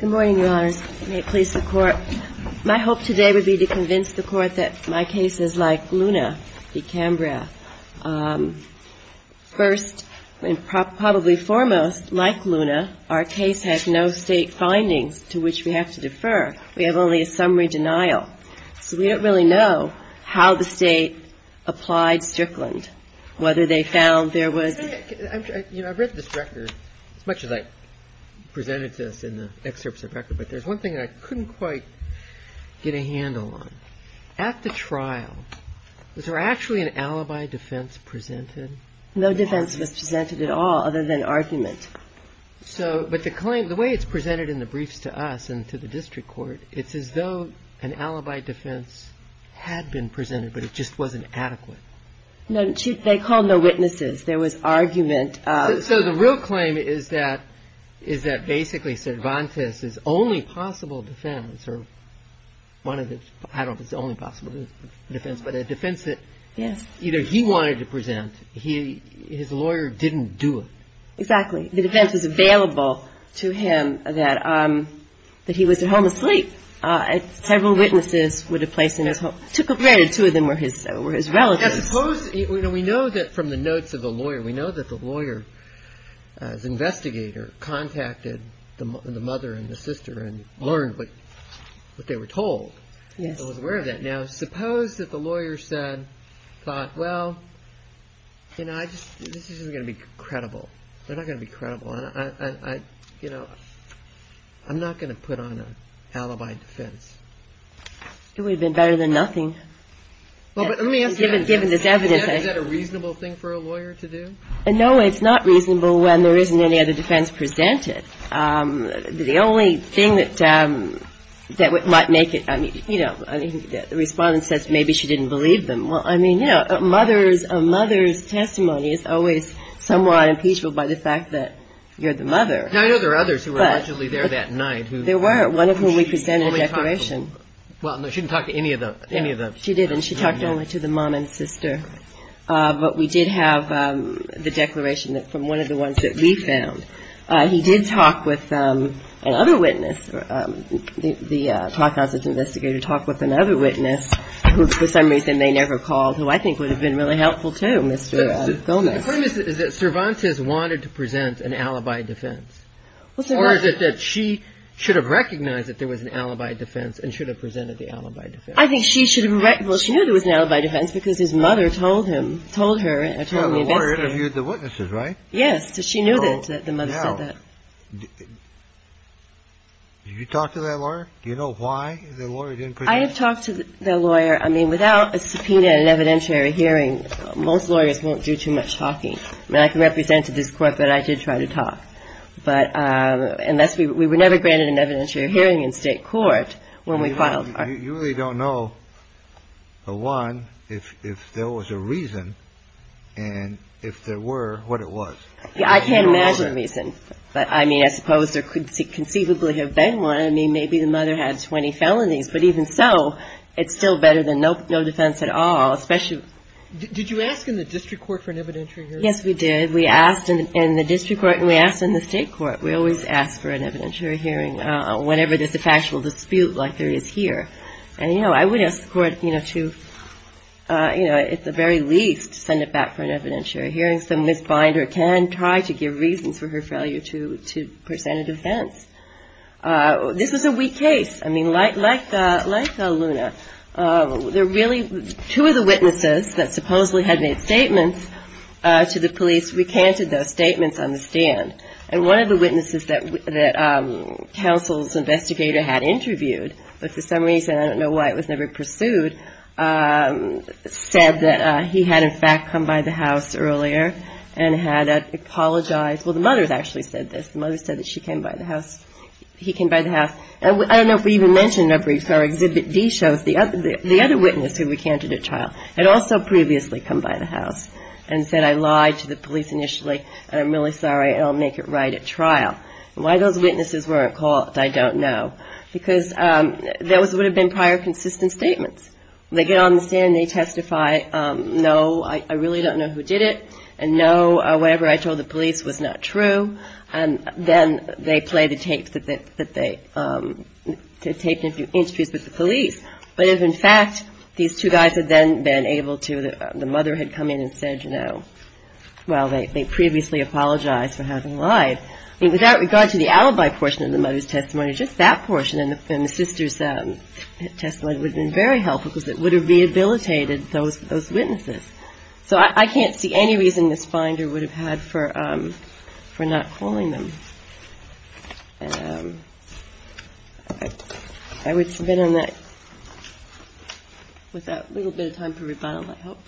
Good morning, Your Honors. May it please the Court. My hope today would be to convince the Court that my case is like Luna v. Cambrath. First and probably foremost, like Luna, our case has no State findings to which we have to defer. We have only a summary denial. So we don't really know how the State applied Strickland, whether they found there was – I've read this record, as much as I presented this in the excerpts of the record, but there's one thing I couldn't quite get a handle on. At the trial, was there actually an alibi defense presented? No defense was presented at all other than argument. So – but the claim – the way it's presented in the briefs to us and to the District Court, it's as though an alibi defense had been presented, but it just wasn't adequate. No, Chief, they called no witnesses. There was argument of – So the real claim is that – is that basically Cervantes' only possible defense, or one of the – I don't know if it's the only possible defense, but a defense that – Yes. Either he wanted to present, he – his lawyer didn't do it. Exactly. The defense was available to him that – that he was at home asleep. Several witnesses would have placed him at home. It took up – two of them were his relatives. Now, suppose – you know, we know that from the notes of the lawyer, we know that the lawyer, as investigator, contacted the mother and the sister and learned what they were told. Yes. He was aware of that. Now, suppose that the lawyer said – thought, well, you know, I just – this isn't going to be credible. They're not going to be credible. I – you know, I'm not going to put on an alibi defense. It would have been better than nothing. Well, but let me ask you – Given this evidence. Is that a reasonable thing for a lawyer to do? No, it's not reasonable when there isn't any other defense presented. The only thing that might make it – I mean, you know, the respondent says maybe she didn't believe them. Well, I mean, you know, a mother's – a mother's testimony is always somewhat unimpeachable by the fact that you're the mother. Now, I know there are others who were allegedly there that night who – There were, one of whom we presented a declaration. She only talked to – well, no, she didn't talk to any of the – any of the – She did, and she talked only to the mom and sister. But we did have the declaration from one of the ones that we found. He did talk with another witness. The clock house's investigator talked with another witness, who for some reason they never called, who I think would have been really helpful, too, Mr. Gomez. The point is that Cervantes wanted to present an alibi defense. Well, Cervantes – Or is it that she should have recognized that there was an alibi defense and should have presented the alibi defense? I think she should have – well, she knew there was an alibi defense because his mother told him – told her and told me about it. Well, the lawyer interviewed the witnesses, right? Yes. So she knew that the mother said that. Did you talk to that lawyer? Do you know why the lawyer didn't present? I have talked to the lawyer. I mean, without a subpoena in an evidentiary hearing, most lawyers won't do too much talking. I mean, I can represent to this court that I did try to talk. But unless we – we were never granted an evidentiary hearing in state court when we filed our – You really don't know, one, if there was a reason, and if there were, what it was. I can't imagine a reason. But, I mean, I suppose there could conceivably have been one. I mean, maybe the mother had 20 felonies. But even so, it's still better than no defense at all, especially – Did you ask in the district court for an evidentiary hearing? Yes, we did. We asked in the district court and we asked in the state court. We always ask for an evidentiary hearing whenever there's a factual dispute like there is here. And, you know, I would ask the court, you know, to, you know, at the very least, send it back for an evidentiary hearing so Ms. Binder can try to give reasons for her failure to present a defense. This was a weak case. I mean, like Luna, there really – two of the witnesses that supposedly had made statements to the police recanted those statements on the stand. And one of the witnesses that counsel's investigator had interviewed, but for some reason I don't know why it was never pursued, said that he had, in fact, come by the house earlier and had apologized. Well, the mother has actually said this. The mother said that she came by the house – he came by the house. And I don't know if we even mentioned in our briefs, our Exhibit D shows, the other witness who recanted at trial had also previously come by the house and said, I lied to the police initially and I'm really sorry and I'll make it right at trial. Why those witnesses weren't caught, I don't know. Because those would have been prior consistent statements. They get on the stand and they testify, no, I really don't know who did it, and no, whatever I told the police was not true. And then they play the tapes that they – to take interviews with the police. But if, in fact, these two guys had then been able to – the mother had come in and said, you know, well, they previously apologized for having lied. I mean, without regard to the alibi portion of the mother's testimony, just that portion and the sister's testimony would have been very helpful because it would have rehabilitated those witnesses. So I can't see any reason Ms. Finder would have had for not calling them. And I would submit on that with that little bit of time for rebuttal, I hope.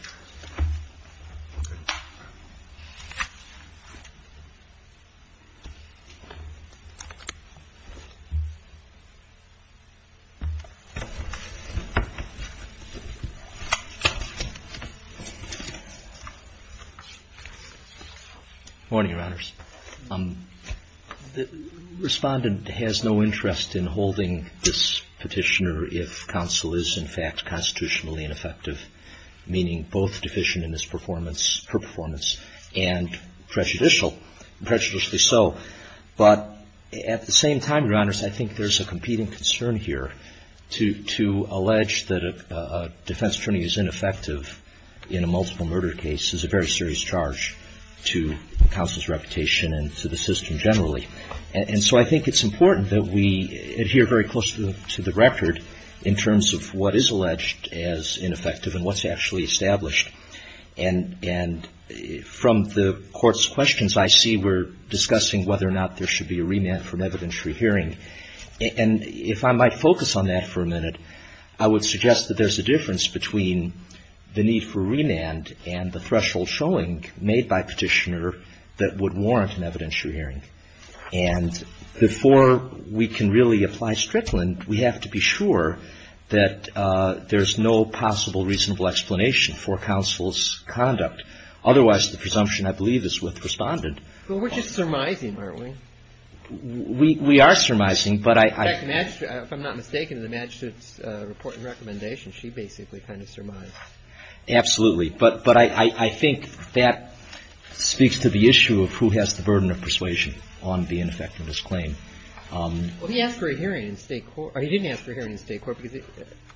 Okay. Respondent has no interest in holding this petitioner if counsel is, in fact, constitutionally ineffective, meaning both deficient in his performance, her performance, and prejudicial, prejudicially so. But at the same time, Your Honors, I think there's a competing concern here. To allege that a defense attorney is ineffective in a multiple murder case is a very to the system generally. And so I think it's important that we adhere very closely to the record in terms of what is alleged as ineffective and what's actually established. And from the Court's questions, I see we're discussing whether or not there should be a remand for an evidentiary hearing. And if I might focus on that for a minute, I would suggest that there's a difference between the need for remand and the threshold showing made by petitioner that would warrant an evidentiary hearing. And before we can really apply Strickland, we have to be sure that there's no possible reasonable explanation for counsel's conduct. Otherwise, the presumption, I believe, is with Respondent. Well, we're just surmising, aren't we? We are surmising, but I In fact, if I'm not mistaken, in the magistrate's report and recommendation, she basically kind of surmised. Absolutely. But I think that speaks to the issue of who has the burden of persuasion on the ineffectiveness claim. Well, he asked for a hearing in State court. Or he didn't ask for a hearing in State court.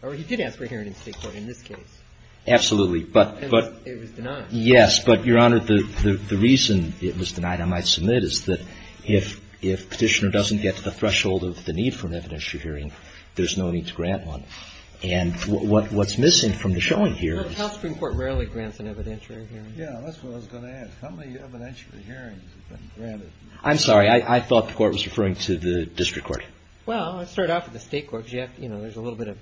Or he did ask for a hearing in State court in this case. But It was denied. Yes. But, Your Honor, the reason it was denied, I might submit, is that if petitioner doesn't get to the threshold of the need for an evidentiary hearing, there's no need to grant one. And what's missing from the showing here is Well, the House Supreme Court rarely grants an evidentiary hearing. Yeah, that's what I was going to ask. How many evidentiary hearings have been granted? I'm sorry. I thought the Court was referring to the District Court. Well, I started off with the State courts, yet, you know, there's a little bit of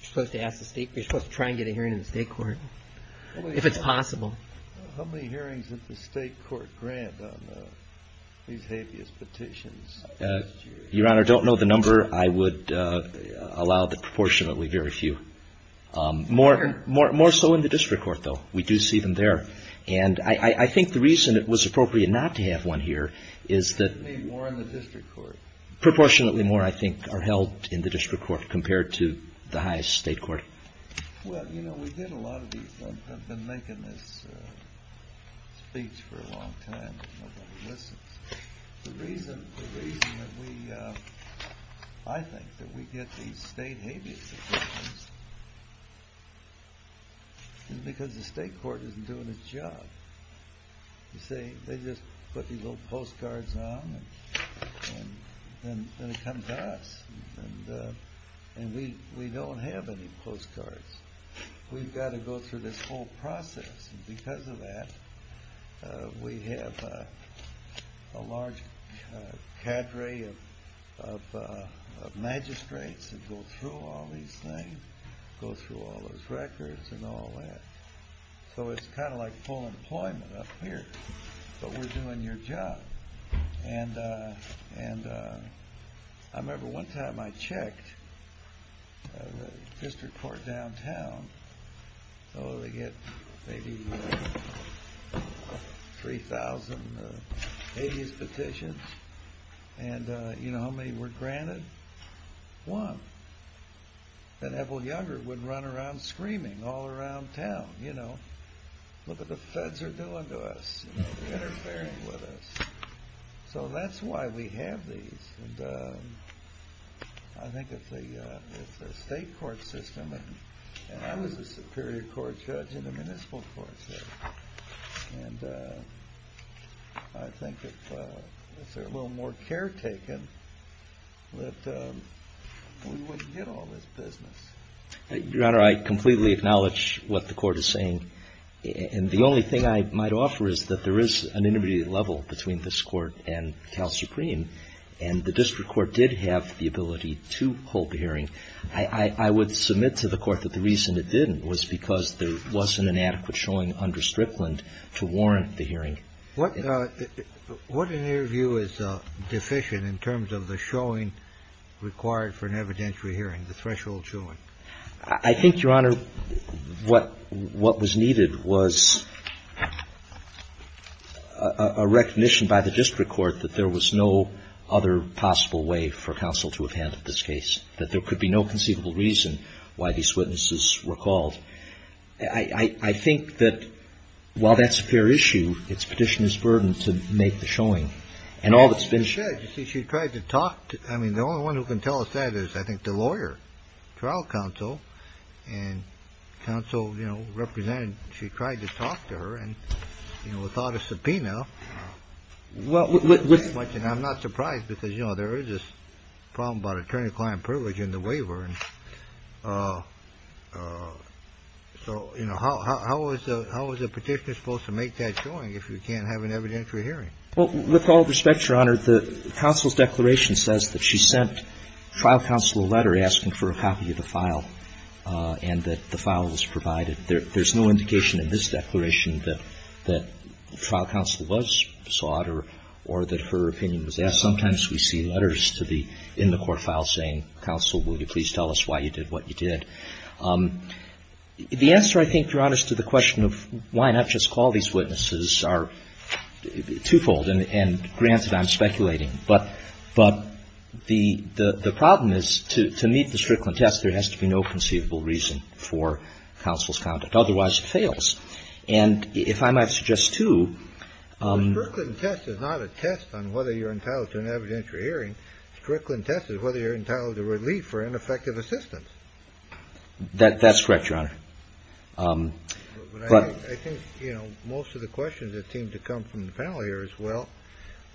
You're supposed to ask the State You're supposed to try and get a hearing in the State court, if it's possible. How many hearings did the State court grant on these habeas petitions? Your Honor, I don't know the number. I would allow the proportionately very few. More so in the District court, though. We do see them there. And I think the reason it was appropriate not to have one here is that More in the District court. Proportionately more, I think, are held in the District court compared to the highest State court. Well, you know, we did a lot of these. I've been making this speech for a long time. The reason that we, I think, that we get these State habeas petitions Is because the State court isn't doing its job. You see, they just put these little postcards on, and then it comes to us. And we don't have any postcards. We've got to go through this whole process. And because of that, we have a large cadre of magistrates That go through all these things. Go through all those records and all that. So it's kind of like full employment up here. But we're doing your job. And I remember one time I checked the District court downtown. So they get maybe 3,000 habeas petitions. And you know how many were granted? One. And Evel Younger would run around screaming all around town. You know, look what the feds are doing to us. Interfering with us. So that's why we have these. And I think if the State court system, and I was a Superior Court judge in the Municipal Court. And I think if they're a little more caretaken, that we wouldn't get all this business. Your Honor, I completely acknowledge what the Court is saying. And the only thing I might offer is that there is an intermediate level between this Court and Cal Supreme. And the District court did have the ability to hold the hearing. I would submit to the Court that the reason it didn't was because there wasn't an adequate showing under Strickland to warrant the hearing. What in your view is deficient in terms of the showing required for an evidentiary hearing, the threshold showing? I think, Your Honor, what was needed was a recognition by the District court that there was no other possible way for counsel to have handled this case. That there could be no conceivable reason why these witnesses were called. I think that while that's a fair issue, it's Petitioner's burden to make the showing. And all that's been said. She tried to talk. I mean, the only one who can tell us that is, I think, the lawyer, trial counsel. And counsel, you know, represented she tried to talk to her and, you know, without a subpoena. Well, I'm not surprised because, you know, there is this problem about attorney-client privilege in the waiver. So, you know, how is the Petitioner supposed to make that showing if you can't have an evidentiary hearing? Well, with all respect, Your Honor, the counsel's declaration says that she sent trial counsel a letter asking for a copy of the file. And that the file was provided. There's no indication in this declaration that trial counsel was sought or that her opinion was asked. Sometimes we see letters in the court file saying, counsel, will you please tell us why you did what you did. The answer, I think, Your Honor, to the question of why not just call these witnesses are twofold. And granted, I'm speculating. But the problem is to meet the Strickland test, there has to be no conceivable reason for counsel's conduct. Otherwise, it fails. And if I might suggest, too. Strickland test is not a test on whether you're entitled to an evidentiary hearing. Strickland test is whether you're entitled to relief or ineffective assistance. That's correct, Your Honor. But I think, you know, most of the questions that seem to come from the panel here as well.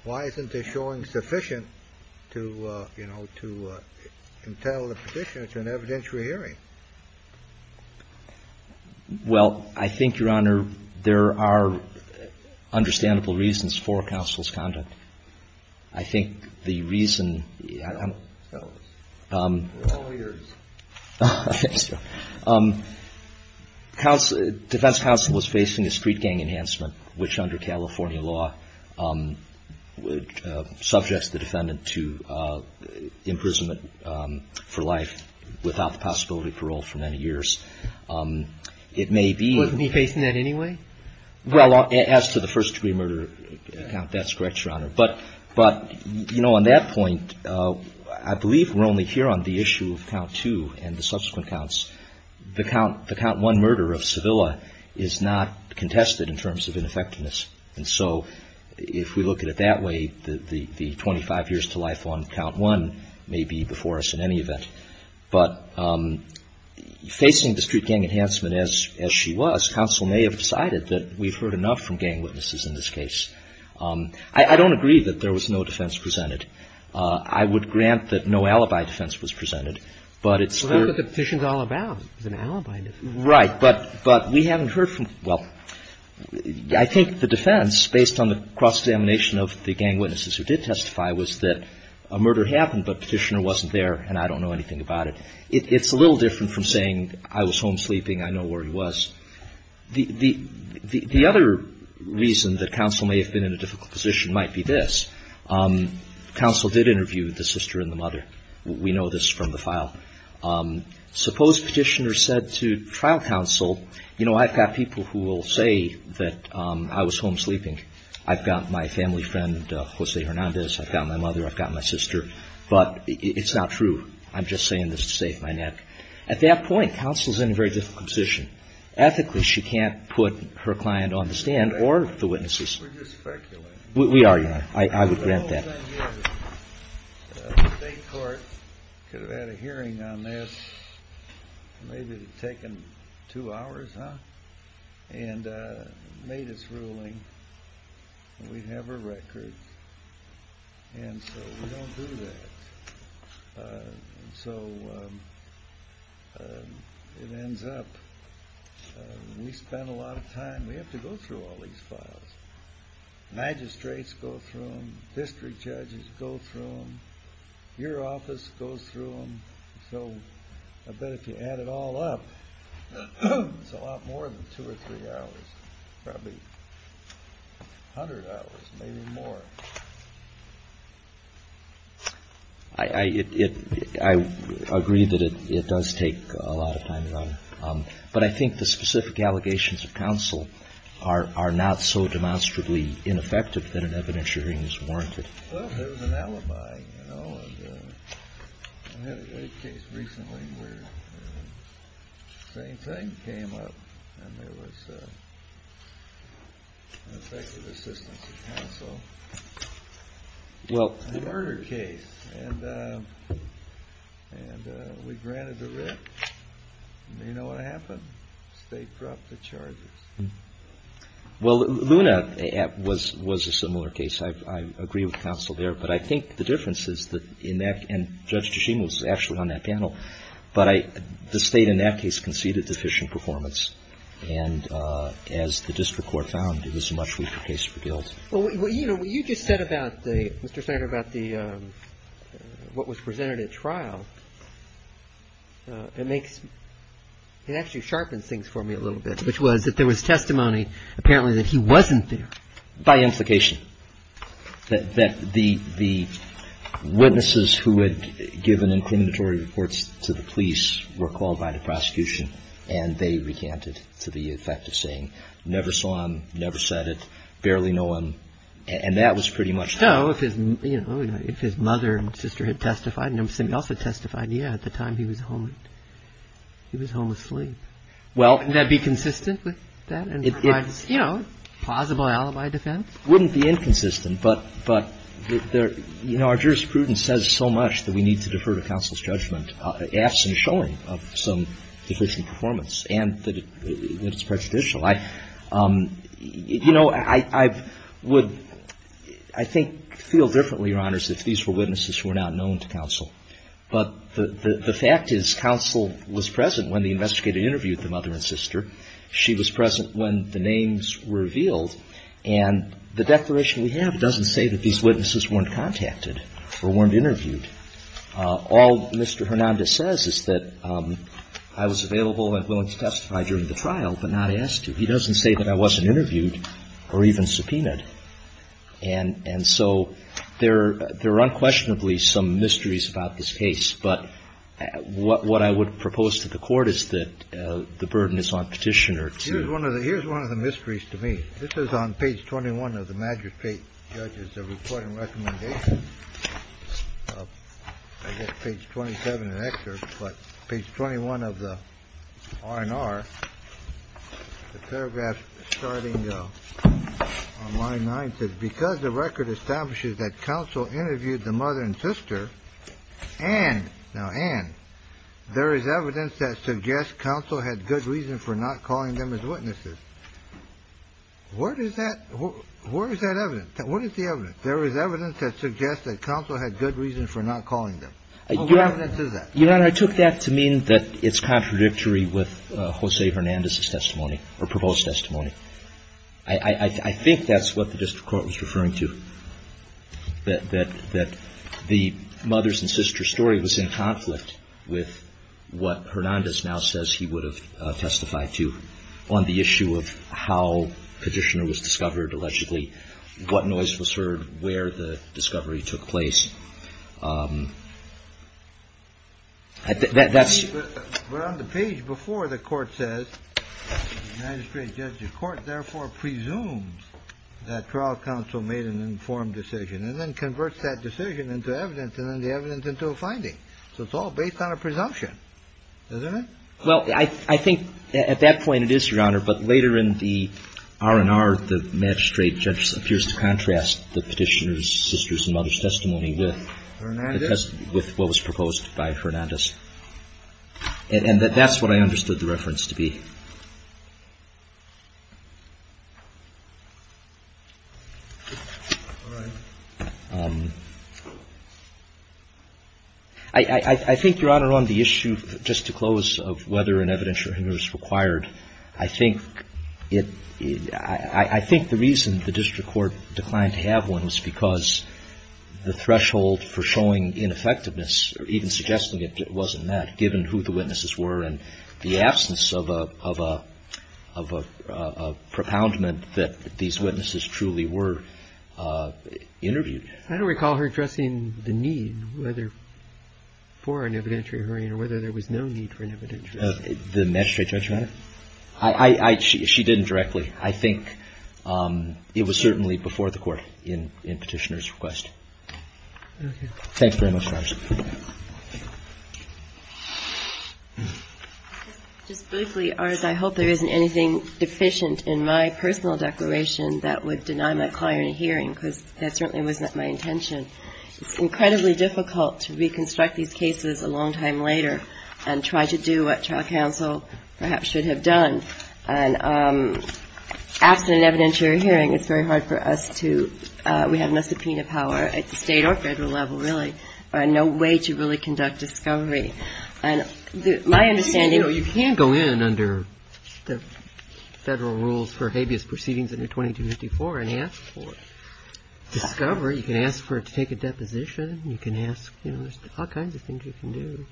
Why isn't this showing sufficient to, you know, to entitle the Petitioner to an evidentiary hearing? Well, I think, Your Honor, there are understandable reasons for counsel's conduct. I think the reason, counsel, defense counsel was facing a street gang enhancement, which under California law subjects the defendant to imprisonment for life without the possibility of parole for many years. It may be. Wasn't he facing that anyway? Well, as to the first degree murder count, that's correct, Your Honor. But, you know, on that point, I believe we're only here on the issue of count two and the subsequent counts. The count one murder of Sevilla is not contested in terms of ineffectiveness. And so if we look at it that way, the 25 years to life on count one may be before us in any event. But facing the street gang enhancement as she was, counsel may have decided that we've heard enough from gang witnesses in this case. I don't agree that there was no defense presented. I would grant that no alibi defense was presented. But it's for — Well, that's what the Petition's all about, is an alibi defense. Right. But we haven't heard from — well, I think the defense, based on the cross-examination of the gang witnesses who did testify, was that a murder happened, but Petitioner wasn't there, and I don't know anything about it. It's a little different from saying, I was home sleeping, I know where he was. The other reason that counsel may have been in a difficult position might be this. Counsel did interview the sister and the mother. We know this from the file. Suppose Petitioner said to trial counsel, you know, I've got people who will say that I was home sleeping. I've got my family friend, Jose Hernandez. I've got my mother. I've got my sister. But it's not true. I'm just saying this to save my neck. At that point, counsel's in a very difficult position. Ethically, she can't put her client on the stand or the witnesses. We're just speculating. We are. I would grant that. The state court could have had a hearing on this. Maybe it would have taken two hours, huh? And made its ruling. We'd have a record. And so we don't do that. And so it ends up we spend a lot of time. We have to go through all these files. Magistrates go through them. District judges go through them. Your office goes through them. So I bet if you add it all up, it's a lot more than two or three hours. Probably a hundred hours, maybe more. I agree that it does take a lot of time to run. But I think the specific allegations of counsel are not so demonstrably ineffective that an evidentiary hearing is warranted. There was an alibi. I had a case recently where the same thing came up. And there was an effective assistance of counsel. A murder case. And we granted the writ. And you know what happened? The state dropped the charges. Well, Luna was a similar case. I agree with counsel there. But I think the difference is that in that, and Judge Jashim was actually on that panel, but the state in that case conceded deficient performance. And as the district court found, it was a much weaker case for guilt. Well, you know, you just said about the, Mr. Senator, about the, what was presented at trial. It makes, it actually sharpens things for me a little bit, which was that there was testimony apparently that he wasn't there. By implication. That the witnesses who had given incriminatory reports to the police were called by the prosecution and they recanted to the effect of saying never saw him, never said it, barely know him, and that was pretty much it. So if his mother and sister had testified and somebody else had testified, yeah, at the time he was home, he was home asleep. Well. Would that be consistent with that? You know, plausible alibi defense? Wouldn't be inconsistent. But, you know, our jurisprudence says so much that we need to defer to counsel's judgment, absent showing of some deficient performance and that it's prejudicial. You know, I would, I think, feel differently, Your Honors, if these were witnesses who are not known to counsel. But the fact is counsel was present when the investigator interviewed the mother and sister. She was present when the names were revealed. And the declaration we have doesn't say that these witnesses weren't contacted or weren't interviewed. All Mr. Hernandez says is that I was available and willing to testify during the trial, but not asked to. He doesn't say that I wasn't interviewed or even subpoenaed. And so there are unquestionably some mysteries about this case. But what I would propose to the Court is that the burden is on Petitioner to do that. The report and recommendation, I guess, page 27 in the excerpt. But page 21 of the R&R, the paragraph starting on line 9, says because the record establishes that counsel interviewed the mother and sister and, now and, there is evidence that suggests counsel had good reason for not calling them as witnesses. What is that? Where is that evidence? What is the evidence? There is evidence that suggests that counsel had good reason for not calling them. What evidence is that? Your Honor, I took that to mean that it's contradictory with Jose Hernandez's testimony or proposed testimony. I think that's what the district court was referring to, that the mother's and sister's story was in conflict with what Hernandez now says he would have testified to on the issue of how Petitioner was discovered, allegedly, what noise was heard, where the discovery took place. That's... But on the page before, the Court says, the United States Judicial Court therefore presumes that trial counsel made an informed decision and then converts that decision into evidence and then the evidence into a finding. So it's all based on a presumption, isn't it? Well, I think at that point it is, Your Honor. But later in the R&R, the magistrate appears to contrast the Petitioner's sister's and mother's testimony with what was proposed by Hernandez. And that's what I understood the reference to be. I think, Your Honor, on the issue, just to close, of whether an evidentiary hearing was required, I think the reason the district court declined to have one was because the threshold for showing ineffectiveness or even suggesting it wasn't met, given who the witnesses were and the absence of a... of a propoundment that these witnesses truly were interviewed. I don't recall her addressing the need whether... for an evidentiary hearing or whether there was no need for an evidentiary hearing. The magistrate judge, Your Honor? I... She didn't directly. I think it was certainly before the Court in Petitioner's request. Okay. Thanks very much, Your Honor. Just briefly, Artis, I hope there isn't anything deficient in my personal declaration that would deny my client a hearing, because that certainly wasn't my intention. It's incredibly difficult to reconstruct these cases a long time later and try to do what trial counsel perhaps should have done. And absent an evidentiary hearing, it's very hard for us to... we have no subpoena power at the state or federal level, really. No way to really conduct discovery. And my understanding... You know, you can't go in under the federal rules for habeas proceedings under 2254 and ask for discovery. You can ask for it to take a deposition. You can ask, you know, there's all kinds of things you can do.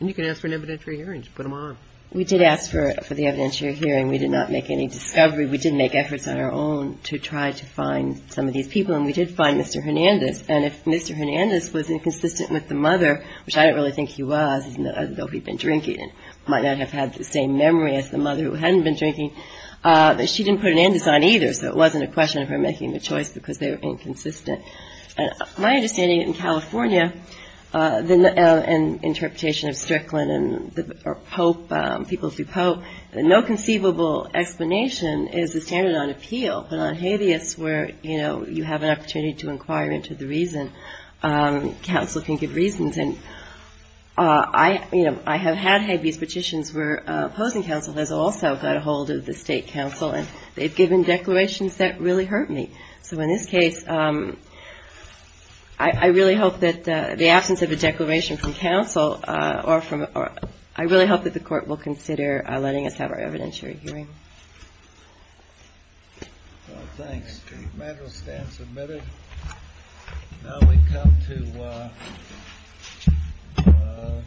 And you can ask for an evidentiary hearing to put them on. We did ask for the evidentiary hearing. We did not make any discovery. We did make efforts on our own to try to find some of these people. And we did find Mr. Hernandez. And if Mr. Hernandez was inconsistent with the mother, which I don't really think he was, even though he'd been drinking and might not have had the same memory as the mother who hadn't been drinking, she didn't put an andes on either. So it wasn't a question of her making the choice because they were inconsistent. My understanding in California and interpretation of Strickland and Pope, people through Pope, no conceivable explanation is the standard on appeal. But on habeas where, you know, you have an opportunity to inquire into the reason, counsel can give reasons. And I, you know, I have had habeas petitions where opposing counsel has also got a hold of the state counsel and they've given declarations that really hurt me. So in this case, I really hope that the absence of a declaration from counsel I really hope that the court will consider letting us have our evidentiary hearing. Thanks. The matter will stand submitted. Now we come to